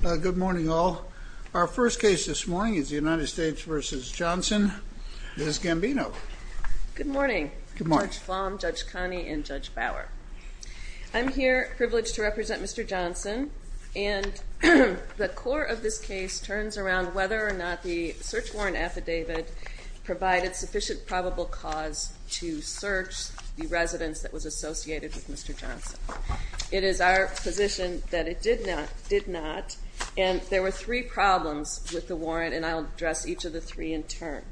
Good morning all. Our first case this morning is the United States v. Johnson. Ms. Gambino. Good morning. Judge Flom, Judge Connie, and Judge Bauer. I'm here privileged to represent Mr. Johnson, and the core of this case turns around whether or not the search warrant affidavit provided sufficient probable cause to search the residence that was associated with Mr. Johnson. It is our position that it did not, and there were three problems with the warrant, and I'll address each of the three in turn.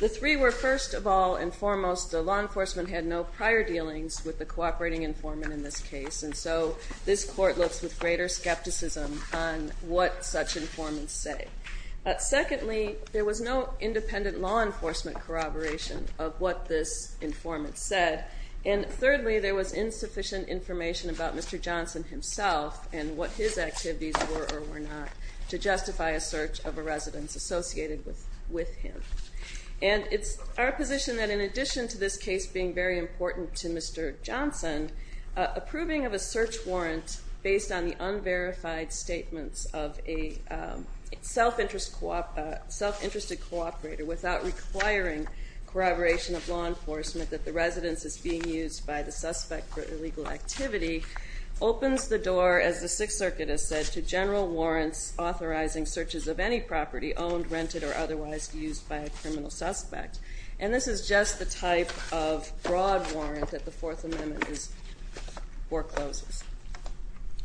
The three were, first of all and foremost, the law enforcement had no prior dealings with the cooperating informant in this case, and so this court looks with greater skepticism on what such informants say. Secondly, there was no independent law enforcement corroboration of what this informant said. And thirdly, there was insufficient information about Mr. Johnson himself and what his activities were or were not to justify a search of a residence associated with him. And it's our position that in addition to this case being very important to Mr. Johnson, approving of a search warrant based on the unverified statements of a self-interested cooperator without requiring corroboration of law enforcement that the residence is being used by the suspect for illegal activity opens the door, as the Sixth Circuit has said, to general warrants authorizing searches of any property owned, rented, or otherwise used by a criminal suspect. And this is just the type of broad warrant that the Fourth Amendment forecloses.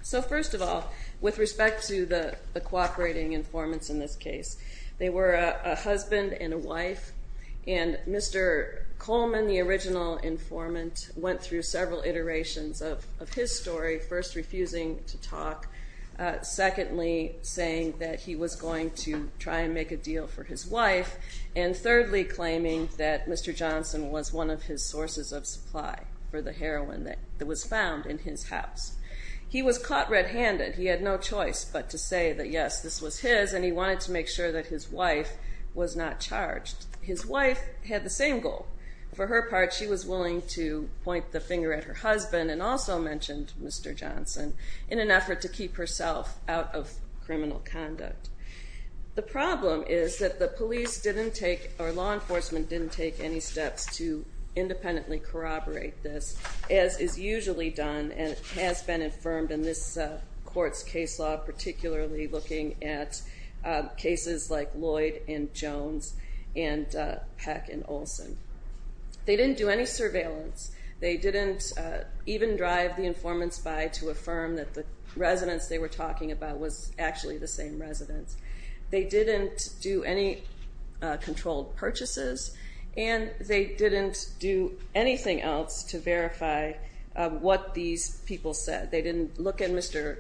So first of all, with respect to the cooperating informants in this case, they were a husband and a wife, and Mr. Coleman, the original informant, went through several iterations of his story, first refusing to talk, secondly saying that he was going to try and make a deal for his wife, and thirdly claiming that Mr. Johnson was one of his sources of supply for the heroin that was found in his house. He was caught red-handed. He had no choice but to say that, yes, this was his, and he wanted to make sure that his wife was not charged. His wife had the same goal. For her part, she was willing to point the finger at her husband and also mentioned Mr. Johnson in an effort to keep herself out of criminal conduct. The problem is that the police didn't take, or law enforcement didn't take, any steps to independently corroborate this, as is usually done and has been affirmed in this court's case law, particularly looking at cases like Lloyd and Jones and Peck and Olson. They didn't do any surveillance. They didn't even drive the informants by to affirm that the residents they were talking about was actually the same residents. They didn't do any controlled purchases, and they didn't do anything else to verify what these people said. They didn't look at Mr.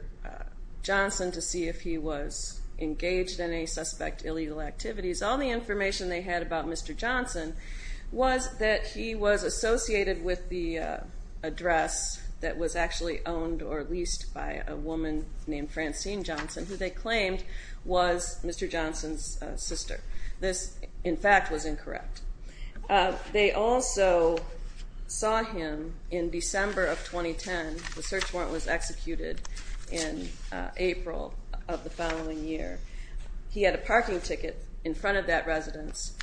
Johnson to see if he was engaged in any suspect illegal activities. All the information they had about Mr. Johnson was that he was associated with the address that was actually owned or leased by a woman named Francine Johnson, who they claimed was Mr. Johnson's sister. This, in fact, was incorrect. They also saw him in December of 2010. The search warrant was executed in April of the following year. He had a parking ticket in front of that residence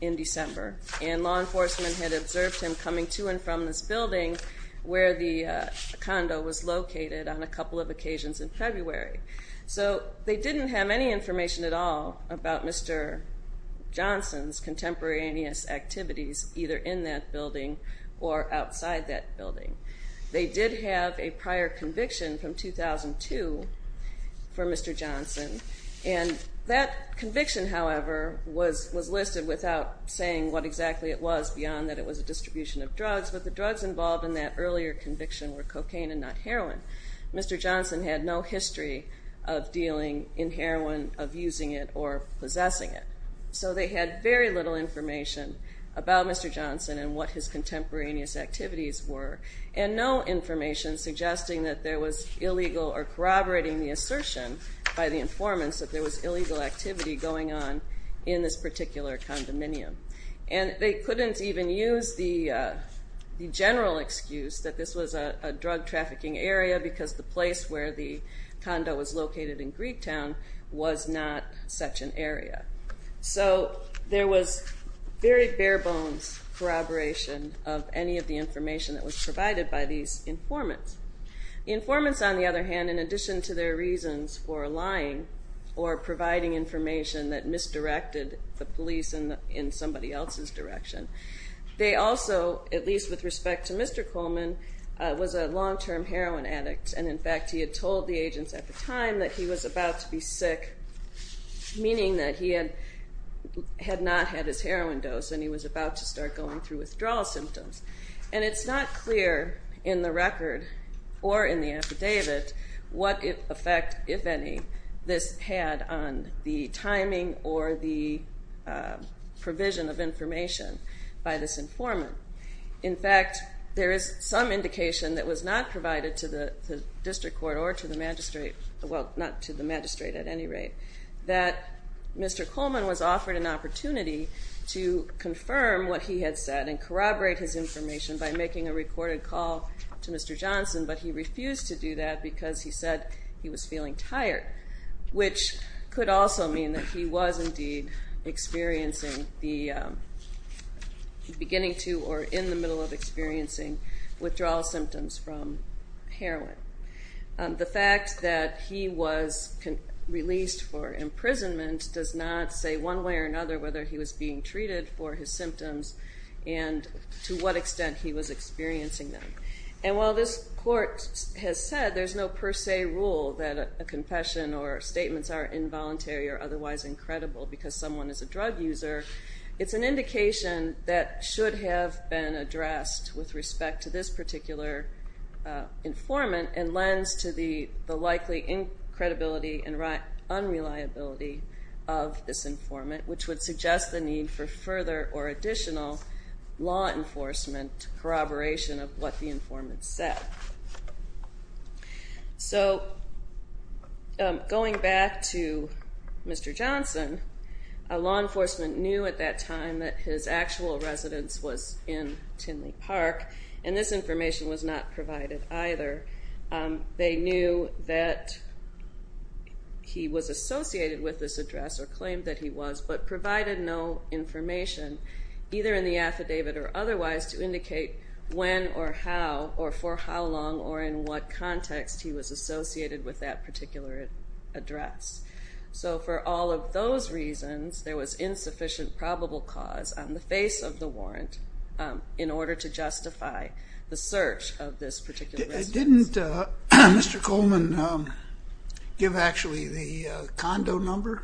in December, and law enforcement had observed him coming to and from this building where the condo was located on a couple of occasions in February. So they didn't have any information at all about Mr. Johnson's contemporaneous activities, either in that building or outside that building. They did have a prior conviction from 2002 for Mr. Johnson, and that conviction, however, was listed without saying what exactly it was beyond that it was a distribution of drugs, but the drugs involved in that earlier conviction were cocaine and not heroin. Mr. Johnson had no history of dealing in heroin, of using it, or possessing it. So they had very little information about Mr. Johnson and what his contemporaneous activities were, and no information suggesting that there was illegal or corroborating the assertion by the informants that there was illegal activity going on in this particular condominium. And they couldn't even use the general excuse that this was a drug-trafficking area because the place where the condo was located in Greektown was not such an area. So there was very bare-bones corroboration of any of the information that was provided by these informants. The informants, on the other hand, in addition to their reasons for lying or providing information that misdirected the police in somebody else's direction, they also, at least with respect to Mr. Coleman, was a long-term heroin addict, and in fact he had told the agents at the time that he was about to be sick, meaning that he had not had his heroin dose and he was about to start going through withdrawal symptoms. And it's not clear in the record or in the affidavit what effect, if any, this had on the timing or the provision of information by this informant. In fact, there is some indication that was not provided to the district court or to the magistrate, well, not to the magistrate at any rate, that Mr. Coleman was offered an opportunity to confirm what he had said and corroborate his information by making a recorded call to Mr. Johnson, but he refused to do that because he said he was feeling tired, which could also mean that he was indeed experiencing the beginning to or in the middle of experiencing withdrawal symptoms from heroin. The fact that he was released for imprisonment does not say one way or another whether he was being treated for his symptoms and to what extent he was experiencing them. And while this court has said there's no per se rule that a confession or statements are involuntary or otherwise incredible because someone is a drug user, it's an indication that should have been addressed with respect to this particular informant and lends to the likely credibility and unreliability of this informant, which would suggest the need for further or additional law enforcement corroboration of what the informant said. So going back to Mr. Johnson, law enforcement knew at that time that his actual residence was in Tinley Park, and this information was not provided either. They knew that he was associated with this address or claimed that he was, but provided no information either in the affidavit or otherwise to indicate when or how or for how long or in what context he was associated with that particular address. So for all of those reasons, there was insufficient probable cause on the face of the warrant in order to justify the search of this particular residence. Didn't Mr. Coleman give, actually, the condo number?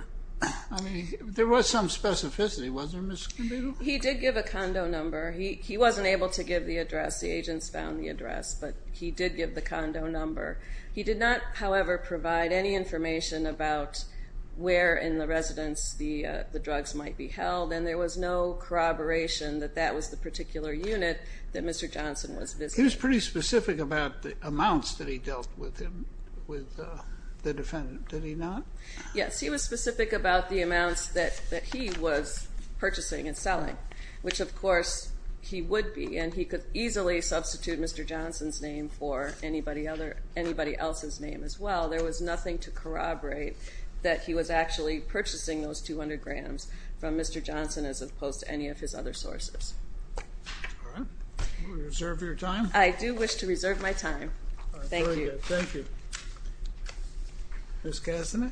I mean, there was some specificity, wasn't there, Ms. Kinby? He did give a condo number. He wasn't able to give the address. The agents found the address, but he did give the condo number. He did not, however, provide any information about where in the residence the drugs might be held, and there was no corroboration that that was the particular unit that Mr. Johnson was visiting. He was pretty specific about the amounts that he dealt with the defendant, did he not? Yes, he was specific about the amounts that he was purchasing and selling, which, of course, he would be, and he could easily substitute Mr. Johnson's name for anybody else's name as well. There was nothing to corroborate that he was actually purchasing those 200 grams from Mr. Johnson as opposed to any of his other sources. All right. Will you reserve your time? I do wish to reserve my time. Thank you. Very good. Thank you. Ms. Kastanek?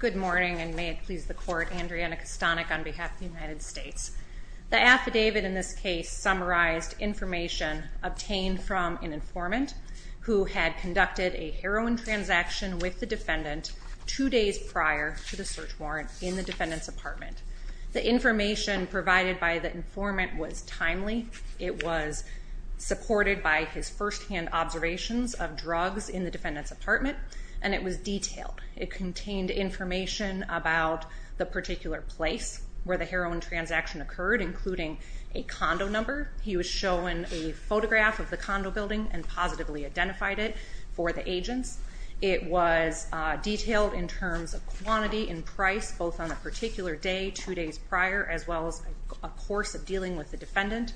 Good morning, and may it please the Court. Andriana Kastanek on behalf of the United States. The affidavit in this case summarized information obtained from an informant who had conducted a heroin transaction with the defendant two days prior to the search warrant in the defendant's apartment. The information provided by the informant was timely. It was supported by his firsthand observations of drugs in the defendant's apartment, and it was detailed. It contained information about the particular place where the heroin transaction occurred, including a condo number. He was shown a photograph of the condo building and positively identified it for the agents. It was detailed in terms of quantity and price, both on the particular day, two days prior, as well as a course of dealing with the defendant,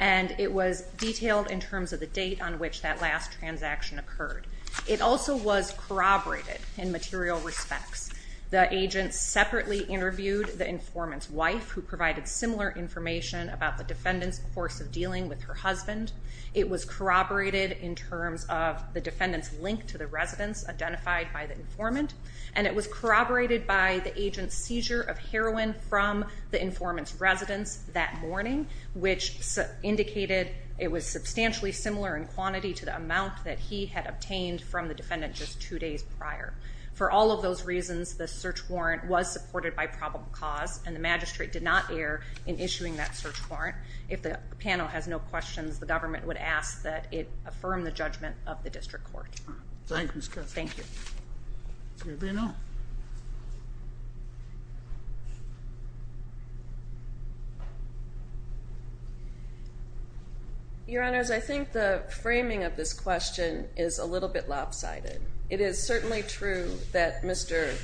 and it was detailed in terms of the date on which that last transaction occurred. It also was corroborated in material respects. The agent separately interviewed the informant's wife, who provided similar information about the defendant's course of dealing with her husband. It was corroborated in terms of the defendant's link to the residence identified by the informant, and it was corroborated by the agent's seizure of heroin from the informant's residence that morning, which indicated it was substantially similar in quantity to the amount that he had obtained from the defendant just two days prior. For all of those reasons, the search warrant was supported by probable cause, and the magistrate did not err in issuing that search warrant. If the panel has no questions, the government would ask that it affirm the judgment of the district court. Thank you. Your Honors, I think the framing of this question is a little bit lopsided. It is certainly true that Mr.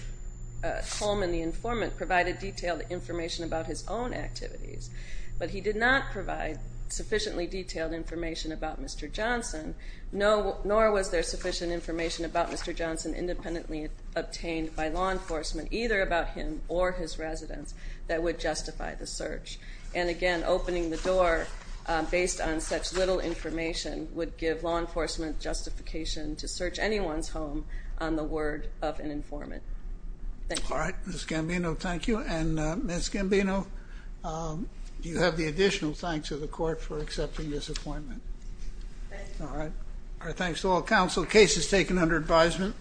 Coleman, the informant, provided detailed information about his own activities, but he did not provide sufficiently detailed information about Mr. Johnson, nor was there sufficient information about Mr. Johnson independently obtained by law enforcement, either about him or his residence, that would justify the search. And again, opening the door based on such little information would give law enforcement justification to search anyone's home on the word of an informant. Thank you. All right. Ms. Gambino, thank you. And, Ms. Gambino, you have the additional thanks of the court for accepting this appointment. Thank you. All right. Our thanks to all counsel. Case is taken under advisement.